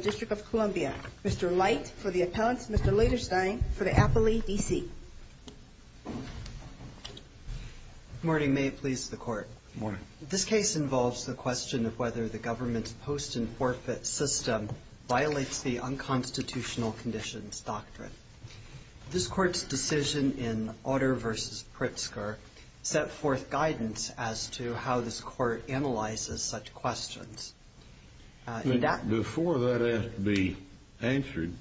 District of Columbia, Mr. Light for the appellants, Mr. Lederstein for the Appley, D.C. Good morning. May it please the Court. Good morning. This case involves the question of whether the government's post-in-forfeit system violates the unconstitutional conditions doctrine. It is a question of whether the government's post-in-forfeit system violates the unconstitutional conditions doctrine. This Court's decision in Otter v. Pritzker set forth guidance as to how this Court analyzes such questions. Before that has to be answered,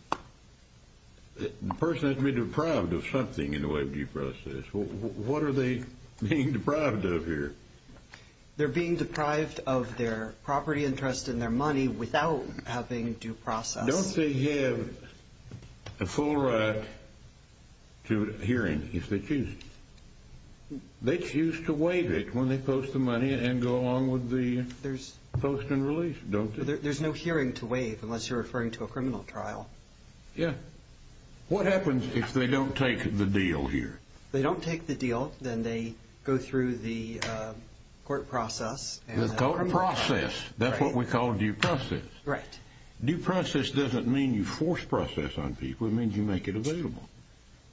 the person has to be deprived of something in the way of due process. What are they being deprived of here? They're being deprived of their property interest and their money without having due process. Don't they have a full right to hearing if they choose? They choose to waive it when they post the money and go along with the post-in-release, don't they? There's no hearing to waive unless you're referring to a criminal trial. Yeah. What happens if they don't take the deal here? They don't take the deal. Then they go through the court process. The court process. That's what we call due process. Due process doesn't mean you force process on people. It means you make it available.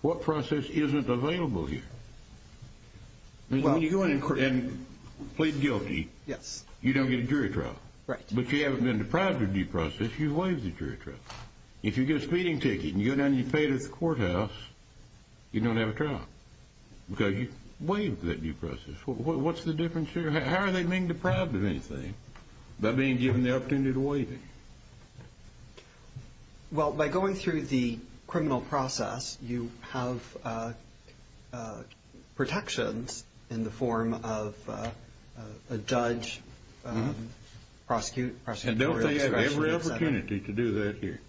What process isn't available here? When you go in and plead guilty, you don't get a jury trial. But if you haven't been deprived of due process, you waive the jury trial. If you get a speeding ticket and you go down and you pay it at the courthouse, you don't have a trial because you waived that due process. What's the reason? Well, by going through the criminal process, you have protections in the form of a judge, prosecutorial discretion. And don't they have every opportunity to do that here?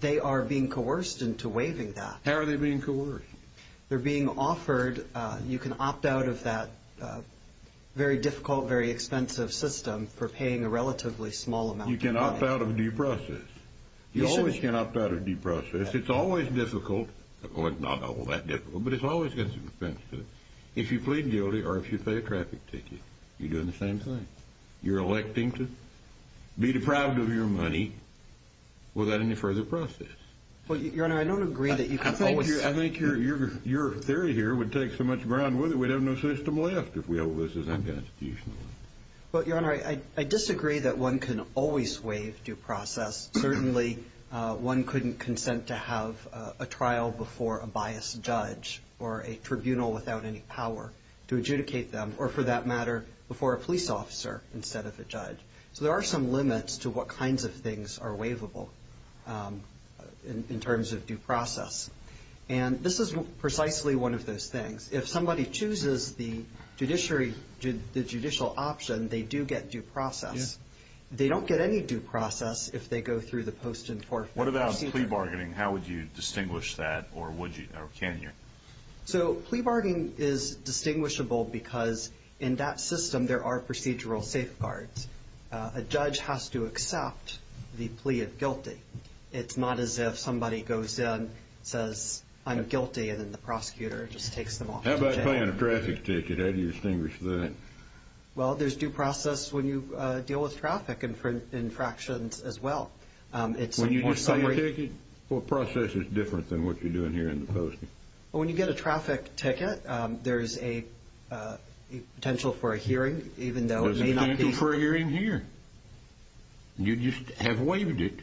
They are being coerced into waiving that. How are they being coerced? They're being offered. You can opt out of that very difficult, very expensive system for paying a relatively small amount. You can opt out of due process. You always can opt out of due process. It's always difficult. Well, it's not all that difficult, but it's always going to be expensive. If you plead guilty or if you pay a traffic ticket, you're doing the same thing. You're electing to be deprived of your money without any further process. Well, Your Honor, I don't agree that you can always waive due process. Certainly, one couldn't consent to have a trial before a biased judge or a tribunal without any power to adjudicate them or, for that matter, before a police officer instead of a judge. So there are some limits to what kinds of things are waivable in terms of due process. And this is precisely one of those things. If somebody chooses the judicial option, they do get due process. They don't get any due process if they go through the post-enforcement procedure. What about plea bargaining? How would you distinguish that or would you or can you? So plea bargaining is distinguishable because in that system there are procedural safeguards. A judge has to accept the plea of guilty. It's not as if somebody goes in, says, I'm guilty, and then the prosecutor just takes them off. How about paying a traffic ticket? How do you distinguish that? Well, there's due process when you deal with traffic infractions as well. When you get a ticket, what process is different than what you're doing here in the posting? When you get a traffic ticket, there's a potential for a hearing even though it may not be. There's a potential for a hearing here. You just have waived it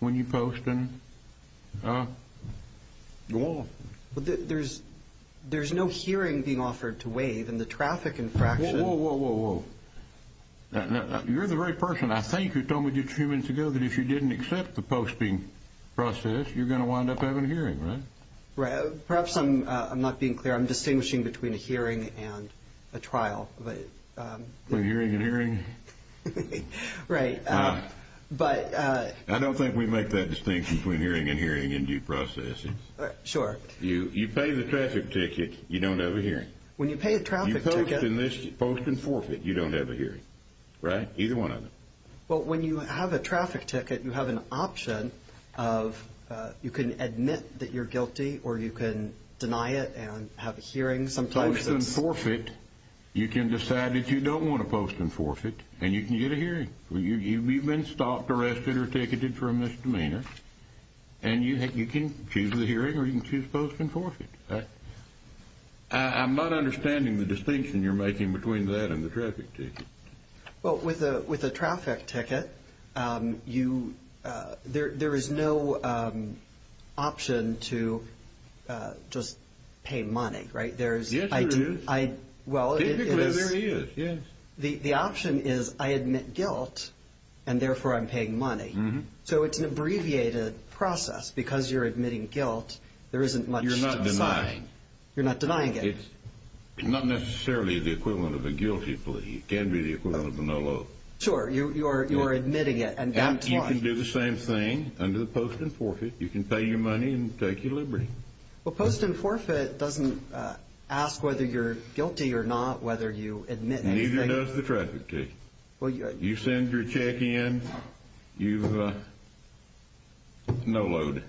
when you go through the posting. There's no hearing being offered to waive in the traffic infraction. Whoa, whoa, whoa, whoa, whoa. You're the right person, I think, who told me just a few minutes ago that if you didn't accept the posting process, you're going to wind up having a hearing, right? Perhaps I'm not being clear. I'm distinguishing between a hearing and a trial. Between hearing and hearing? Right. I don't think we make that distinction. Between hearing and hearing and due processing. Sure. You pay the traffic ticket, you don't have a hearing. When you pay a traffic ticket... You post and forfeit, you don't have a hearing, right? Either one of them. Well, when you have a traffic ticket, you have an option of you can admit that you're guilty or you can deny it and have a hearing. Post and forfeit, you can decide that you don't want to post and forfeit, and you can get a misdemeanor, and you can choose the hearing or you can choose post and forfeit, right? I'm not understanding the distinction you're making between that and the traffic ticket. Well, with a traffic ticket, there is no option to just pay money, right? Yes, there is. Typically, there is, yes. The option is I admit guilt, and therefore I'm paying money. So it's an abbreviated process. Because you're admitting guilt, there isn't much to decide. You're not denying it. It's not necessarily the equivalent of a guilty plea. It can be the equivalent of a no-law. Sure. You're admitting it, and that's why. And you can do the same thing under the post and forfeit. You can pay your money and take your liberty. Well, post and forfeit doesn't ask whether you're admitting or not. Post and forfeit does the traffic ticket. You send your check in, you have no load.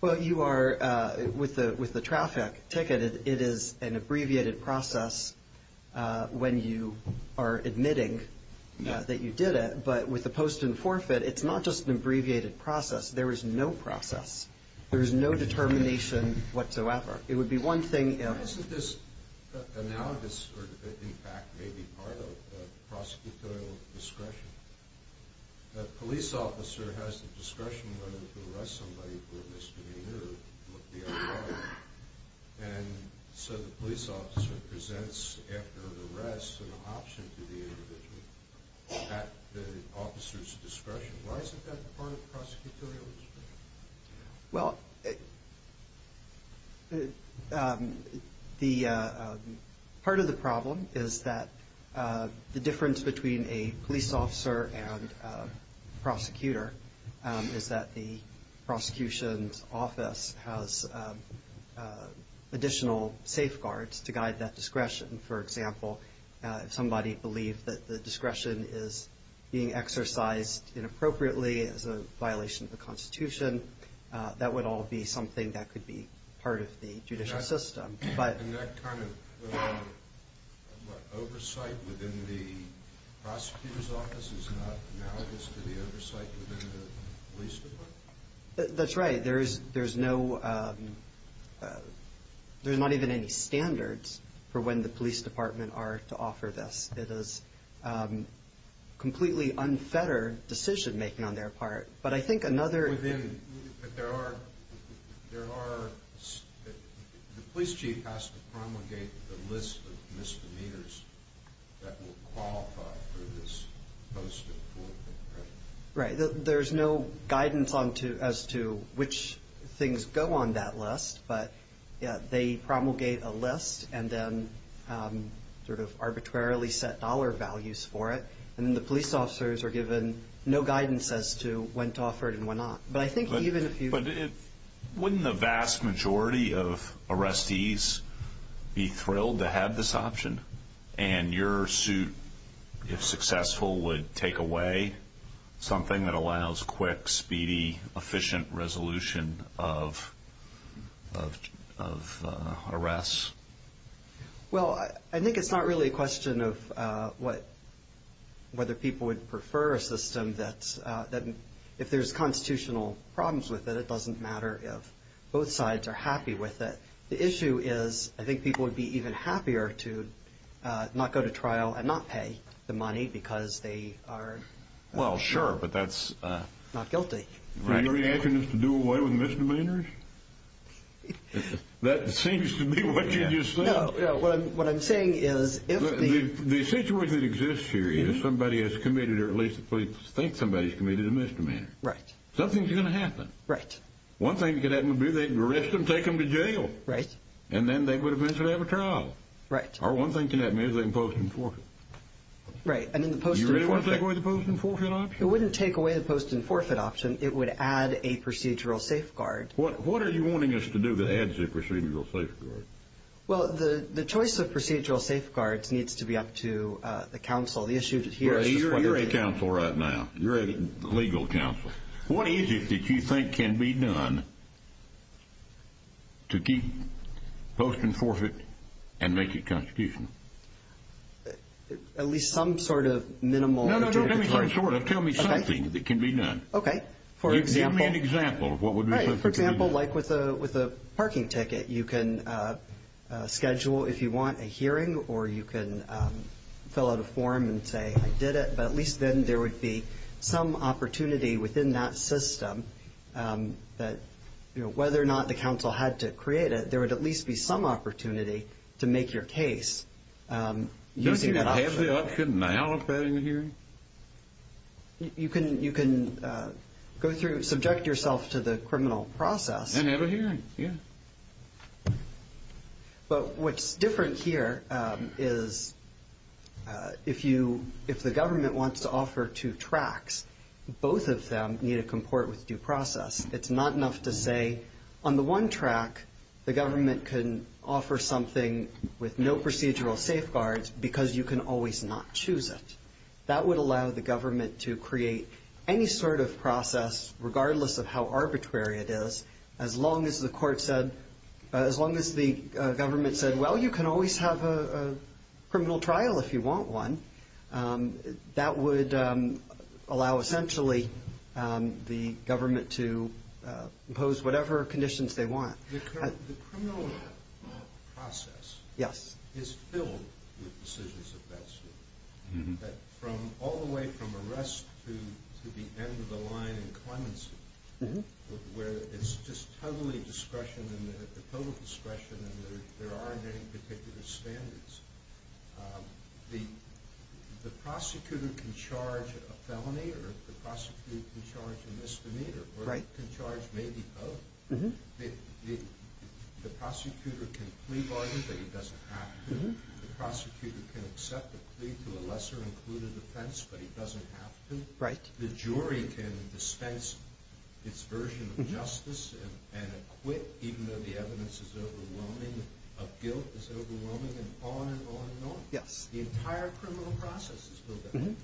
Well, you are, with the traffic ticket, it is an abbreviated process when you are admitting that you did it. But with the post and forfeit, it's not just an abbreviated process. There is no process. There is no determination whatsoever. It would be one thing if... Isn't this analogous, or in fact, maybe, to the post and forfeit? Well, the... Part of the problem is that, you know, it's not just a matter of whether you're admitting or not. It's a matter of whether you're admitting or not. The difference between a police officer and a prosecutor is that the prosecution's office has additional safeguards to guide that discretion. For example, if somebody believed that the discretion is being exercised inappropriately as a violation of the Constitution, that would all be something that could be part of the judicial system. And that kind of... What, oversight within the prosecutor's office is not analogous to the oversight within the police department? That's right. There's no... There's not even any standards for when the police department are to offer this. It is completely unfettered decision-making on their part. But I think another... But there are... The police chief has to promulgate the list of misdemeanors that will qualify for this post-forfeit, right? Right. There's no guidance as to which things go on that list. But they promulgate a list, and then, sort of, arbitrarily set dollar values for it. And then, the police officers are given no guidance as to when to offer it and when not. But I think even... But wouldn't the vast majority of arrestees be thrilled to have this option? And your suit, if successful, would take away something that allows quick, speedy, efficient resolution of arrests? Well, I think it's not really a question of whether people would prefer a system that, if there's constitutional problems with it, it doesn't matter if both sides are happy with it. The issue is, I think people would be even happier to not go to trial and not pay the money because they are not guilty. Are you asking us to do away with misdemeanors? That seems to be what you just said. No, no. What I'm saying is, if the... The situation that exists here is somebody has committed, or at least the police think somebody has committed a misdemeanor. Right. Something's going to happen. Right. One thing that could happen would be they could arrest them, take them to jail. Right. And then they would eventually have a trial. Right. Or one thing that could happen is they can post them in forfeit. Right. And in the post-in-forfeit... You really want to take away the post-in-forfeit option? It wouldn't take away the post-in-forfeit option. It would add a procedural safeguard. What are you wanting us to do that adds a procedural safeguard? Well, the choice of procedural safeguards needs to be up to the counsel. The issue here is... You're a counsel right now. You're a legal counsel. What is it that you think can be done to keep post-in-forfeit and make it constitutional? At least some sort of minimal... No, no, no. Don't give me some sort of. Tell me something that can be done. Okay. For example... Give me an example of what would be... Right. For example, like with a parking ticket, you can schedule, if you want, a hearing, or you can fill out a form and say, I did it. But at least then there would be some opportunity within that system that whether or not the counsel had to create it, there would at least be some opportunity to make your case using that option. Couldn't I have a hearing? You can go through, subject yourself to the criminal process. And have a hearing, yeah. But what's different here is if the government wants to offer two tracks, both of them need to comport with due process. It's not enough to say, on the one track, the government can offer something with no procedural safeguards because you can always not choose it. That would allow the government to create any sort of process, regardless of how arbitrary it is, as long as the government said, well, you can always have a criminal trial if you want one. That would allow, essentially, the government to impose whatever conditions they want. The criminal process is filled with decisions of that sort, from all the way from arrest to the end of the line in clemency, where it's just totally discretion and there are no particular standards. The prosecutor can charge a felony or the prosecutor can charge a misdemeanor or can charge maybe both. The prosecutor can plea bargain, but he doesn't have to. The prosecutor can accept a plea to a lesser included offense, but he doesn't have to. The jury can dispense its version of justice and acquit, even though the evidence of guilt is overwhelming, and on and on and on. The entire criminal process is filled with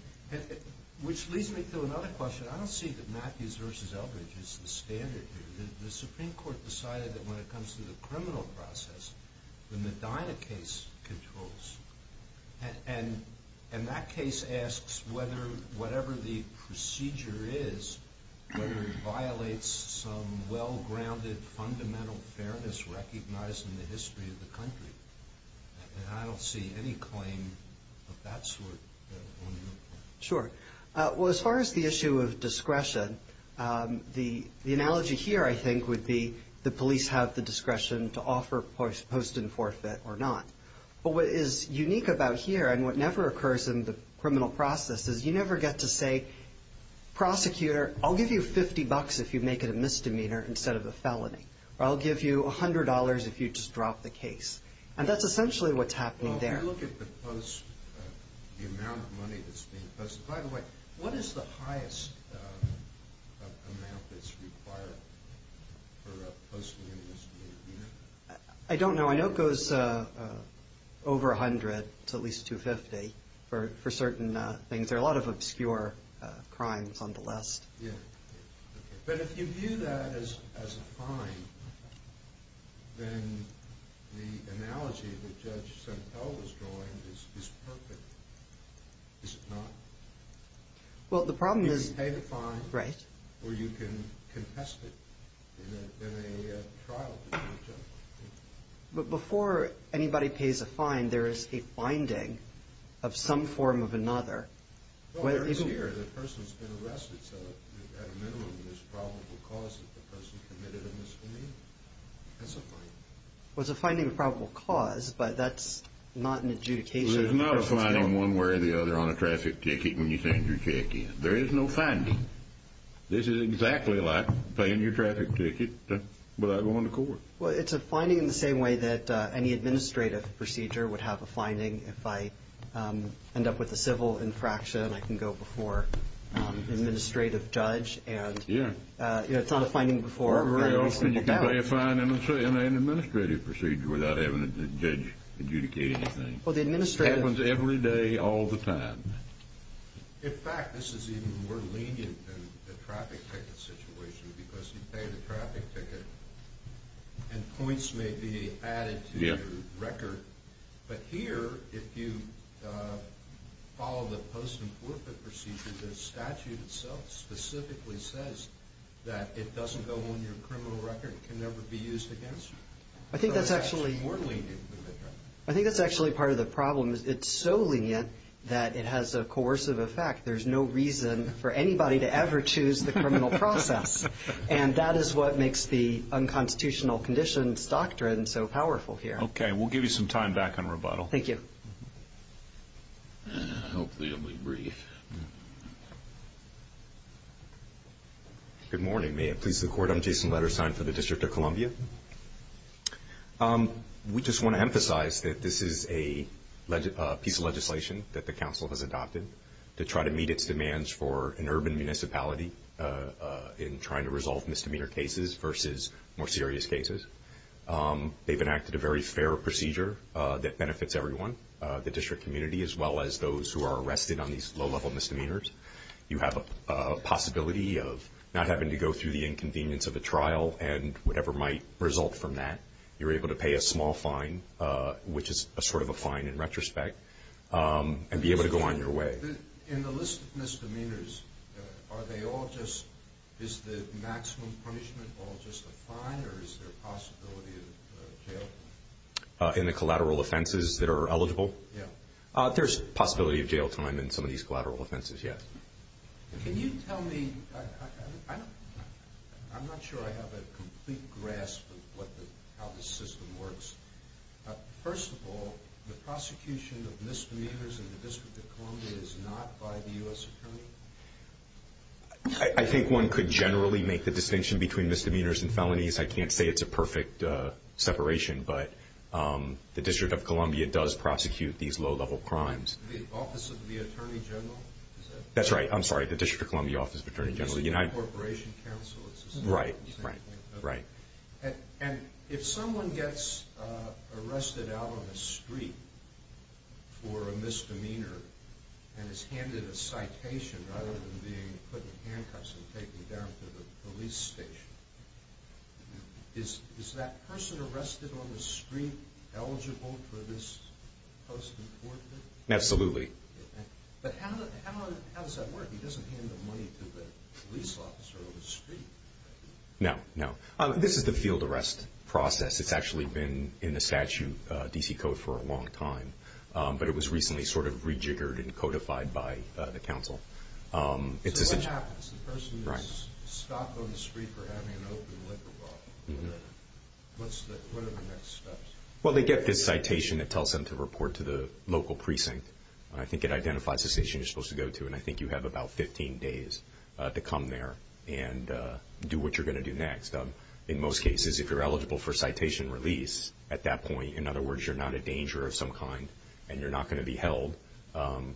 that. Which leads me to another question. I don't see that Matthews v. Eldridge is the standard here. The Supreme Court decided that when it comes to the criminal process, the Medina case controls. And that case asks whether whatever the procedure is, whether it violates some well-grounded fundamental fairness recognized in the history of the country. And I don't see any claim of that sort on your part. Sure. Well, as far as the issue of discretion, the analogy here, I think, would be the police have the discretion to offer post and forfeit or not. But what is unique about here, and what never occurs in the criminal process, is you never get to say, prosecutor, I'll give you 50 bucks if you make it a misdemeanor instead of a felony. Or I'll give you $100 if you just drop the case. And that's essentially what's happening there. Well, if you look at the post, the amount of money that's being posted. By the way, what is the highest amount that's required for a post and a misdemeanor? I don't know. I know it goes over 100 to at least 250 for certain things. There are a lot of obscure crimes on the list. Yeah. But if you view that as a fine, then the analogy that Judge Santel was drawing is perfect. Is it not? Well, the problem is. You can pay the fine. Right. Or you can contest it in a trial. But before anybody pays a fine, there is a finding of some form of another. Well, there is here. The person's been arrested. So at a minimum, there's probable cause that the person committed a misdemeanor. That's a finding. Well, it's a finding of probable cause, but that's not an adjudication. There's not a finding one way or the other on a traffic ticket when you send your check in. There is no finding. This is exactly like paying your traffic ticket without going to court. Well, it's a finding in the same way that any administrative procedure would have a finding. If I end up with a civil infraction, I can go before an administrative judge. Yeah. It's not a finding before. Well, you can pay a fine in an administrative procedure without having the judge adjudicate anything. Well, the administrative. It happens every day all the time. In fact, this is even more lenient than the traffic ticket situation because you pay the traffic ticket and points may be added to your record. But here, if you follow the post and forfeit procedure, the statute itself specifically says that it doesn't go on your criminal record. It can never be used against you. I think that's actually part of the problem. It's so lenient that it has a coercive effect. There's no reason for anybody to ever choose the criminal process, and that is what makes the unconstitutional conditions doctrine so powerful here. Okay. We'll give you some time back on rebuttal. Thank you. Hopefully it'll be brief. Good morning. May it please the Court. I'm Jason Lederstein for the District of Columbia. We just want to emphasize that this is a piece of legislation that the council has adopted to try to meet its demands for an urban municipality in trying to resolve misdemeanor cases versus more serious cases. They've enacted a very fair procedure that benefits everyone, the district community, as well as those who are arrested on these low-level misdemeanors. You have a possibility of not having to go through the inconvenience of a trial and whatever might result from that. You're able to pay a small fine, which is sort of a fine in retrospect, and be able to go on your way. In the list of misdemeanors, is the maximum punishment all just a fine, or is there a possibility of jail time? In the collateral offenses that are eligible? Yes. There's a possibility of jail time in some of these collateral offenses, yes. Can you tell me, I'm not sure I have a complete grasp of how this system works. First of all, the prosecution of misdemeanors in the District of Columbia is not by the U.S. Attorney? I think one could generally make the distinction between misdemeanors and felonies. I can't say it's a perfect separation, but the District of Columbia does prosecute these low-level crimes. The Office of the Attorney General? That's right. I'm sorry, the District of Columbia Office of the Attorney General. The District of Columbia Corporation Counsel. Right, right, right. If someone gets arrested out on the street for a misdemeanor and is handed a citation rather than being put in handcuffs and taken down to the police station, is that person arrested on the street eligible for this post-important? Absolutely. But how does that work? He doesn't hand the money to the police officer on the street, right? No, no. This is the field arrest process. It's actually been in the statute, D.C. Code, for a long time, but it was recently sort of rejiggered and codified by the counsel. So what happens? The person is stopped on the street for having an open liquor bar. What are the next steps? Well, they get this citation that tells them to report to the local precinct. I think it identifies the station you're supposed to go to, and I think you have about 15 days to come there and do what you're going to do next. In most cases, if you're eligible for citation release at that point, in other words, you're not a danger of some kind and you're not going to be held,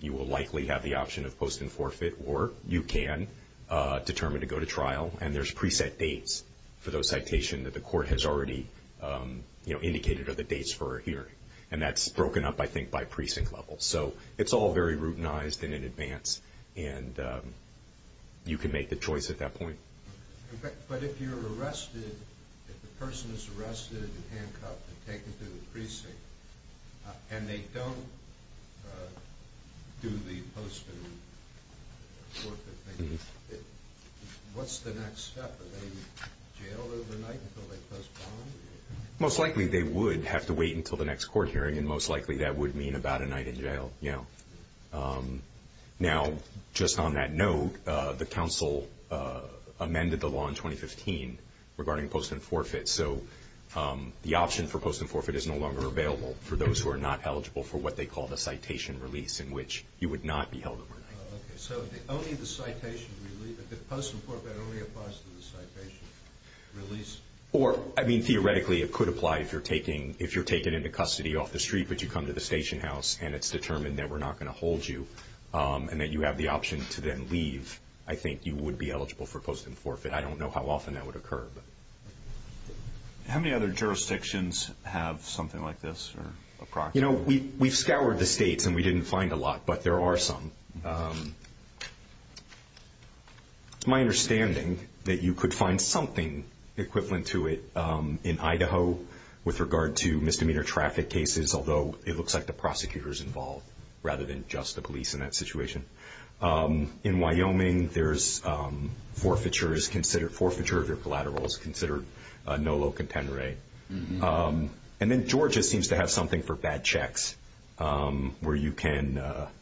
you will likely have the option of post and forfeit, or you can determine to go to trial, and there's preset dates for those citations that the court has already indicated are the dates for a hearing. And that's broken up, I think, by precinct level. So it's all very routinized and in advance, and you can make the choice at that point. But if you're arrested, if the person is arrested and handcuffed and taken to the precinct and they don't do the post and forfeit thing, what's the next step? Are they jailed overnight until they post bond? Most likely they would have to wait until the next court hearing, and most likely that would mean about a night in jail, yeah. Now, just on that note, the counsel amended the law in 2015 regarding post and forfeit, so the option for post and forfeit is no longer available for those who are not eligible for what they call the citation release, in which you would not be held overnight. Oh, okay. So only the citation release, post and forfeit only applies to the citation release? Or, I mean, theoretically it could apply if you're taken into custody off the street, but you come to the station house and it's determined that we're not going to hold you and that you have the option to then leave, I think you would be eligible for post and forfeit. I don't know how often that would occur. How many other jurisdictions have something like this? You know, we've scoured the states and we didn't find a lot, but there are some. It's my understanding that you could find something equivalent to it in Idaho with regard to misdemeanor traffic cases, although it looks like the prosecutor is involved rather than just the police in that situation. In Wyoming, forfeiture of your collateral is considered no low contender aid. And then Georgia seems to have something for bad checks where you can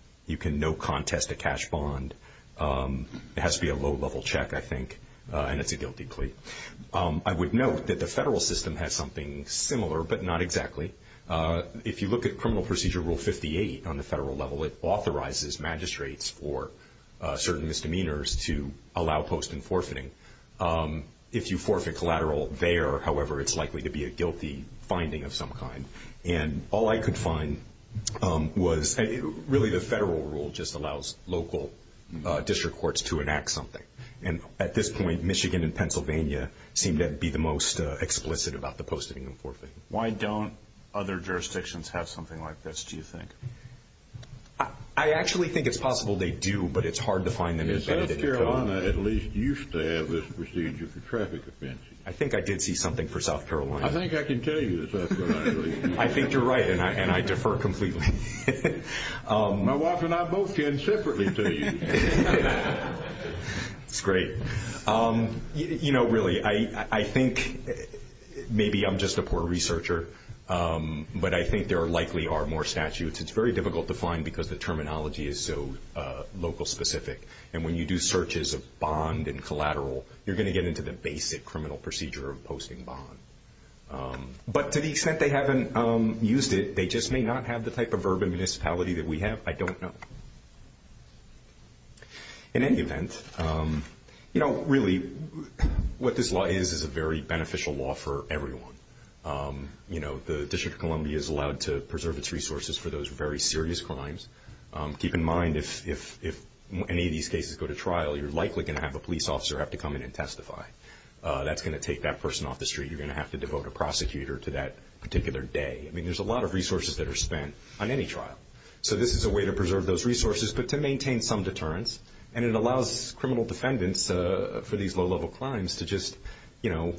no contest a cash bond. It has to be a low-level check, I think, and it's a guilty plea. I would note that the federal system has something similar, but not exactly. If you look at Criminal Procedure Rule 58 on the federal level, it authorizes magistrates for certain misdemeanors to allow post and forfeiting. If you forfeit collateral there, however, it's likely to be a guilty finding of some kind. And all I could find was really the federal rule just allows local district courts to enact something. And at this point, Michigan and Pennsylvania seem to be the most explicit about the post and forfeiting. Why don't other jurisdictions have something like this, do you think? I actually think it's possible they do, but it's hard to find them. South Carolina at least used to have this procedure for traffic offenses. I think I did see something for South Carolina. I think I can tell you that South Carolina did. I think you're right, and I defer completely. My wife and I both can separately tell you. That's great. You know, really, I think maybe I'm just a poor researcher, but I think there likely are more statutes. It's very difficult to find because the terminology is so local specific. And when you do searches of bond and collateral, you're going to get into the basic criminal procedure of posting bond. But to the extent they haven't used it, they just may not have the type of urban municipality that we have, I don't know. In any event, you know, really, what this law is is a very beneficial law for everyone. You know, the District of Columbia is allowed to preserve its resources for those very serious crimes. Keep in mind, if any of these cases go to trial, you're likely going to have a police officer have to come in and testify. That's going to take that person off the street. You're going to have to devote a prosecutor to that particular day. I mean, there's a lot of resources that are spent on any trial. So this is a way to preserve those resources, but to maintain some deterrence. And it allows criminal defendants for these low-level crimes to just, you know,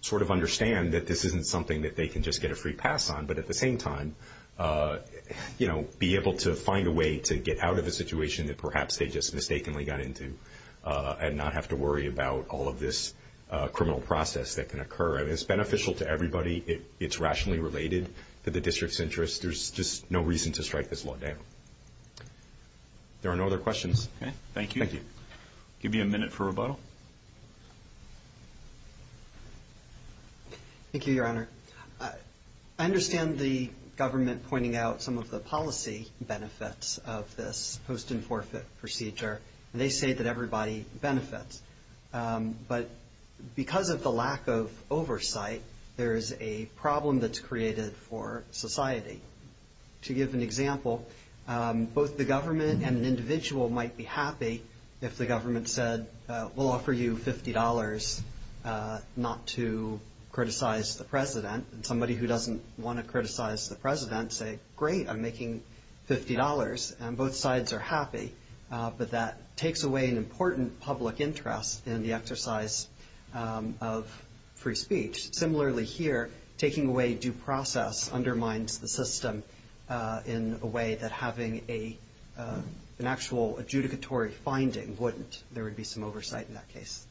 sort of understand that this isn't something that they can just get a free pass on, but at the same time, you know, be able to find a way to get out of a situation that perhaps they just mistakenly got into and not have to worry about all of this criminal process that can occur. It's beneficial to everybody. It's rationally related to the district's interests. There's just no reason to strike this law down. There are no other questions. Okay, thank you. Thank you. I'll give you a minute for rebuttal. Thank you, Your Honor. I understand the government pointing out some of the policy benefits of this post-in-forfeit procedure, and they say that everybody benefits. But because of the lack of oversight, there is a problem that's created for society. To give an example, both the government and an individual might be happy if the government said, we'll offer you $50 not to criticize the President, and somebody who doesn't want to criticize the President say, great, I'm making $50, and both sides are happy. But that takes away an important public interest in the exercise of free speech. Similarly here, taking away due process undermines the system in a way that having an actual adjudicatory finding wouldn't. There would be some oversight in that case.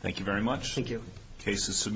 Thank you very much. Thank you. The case is submitted.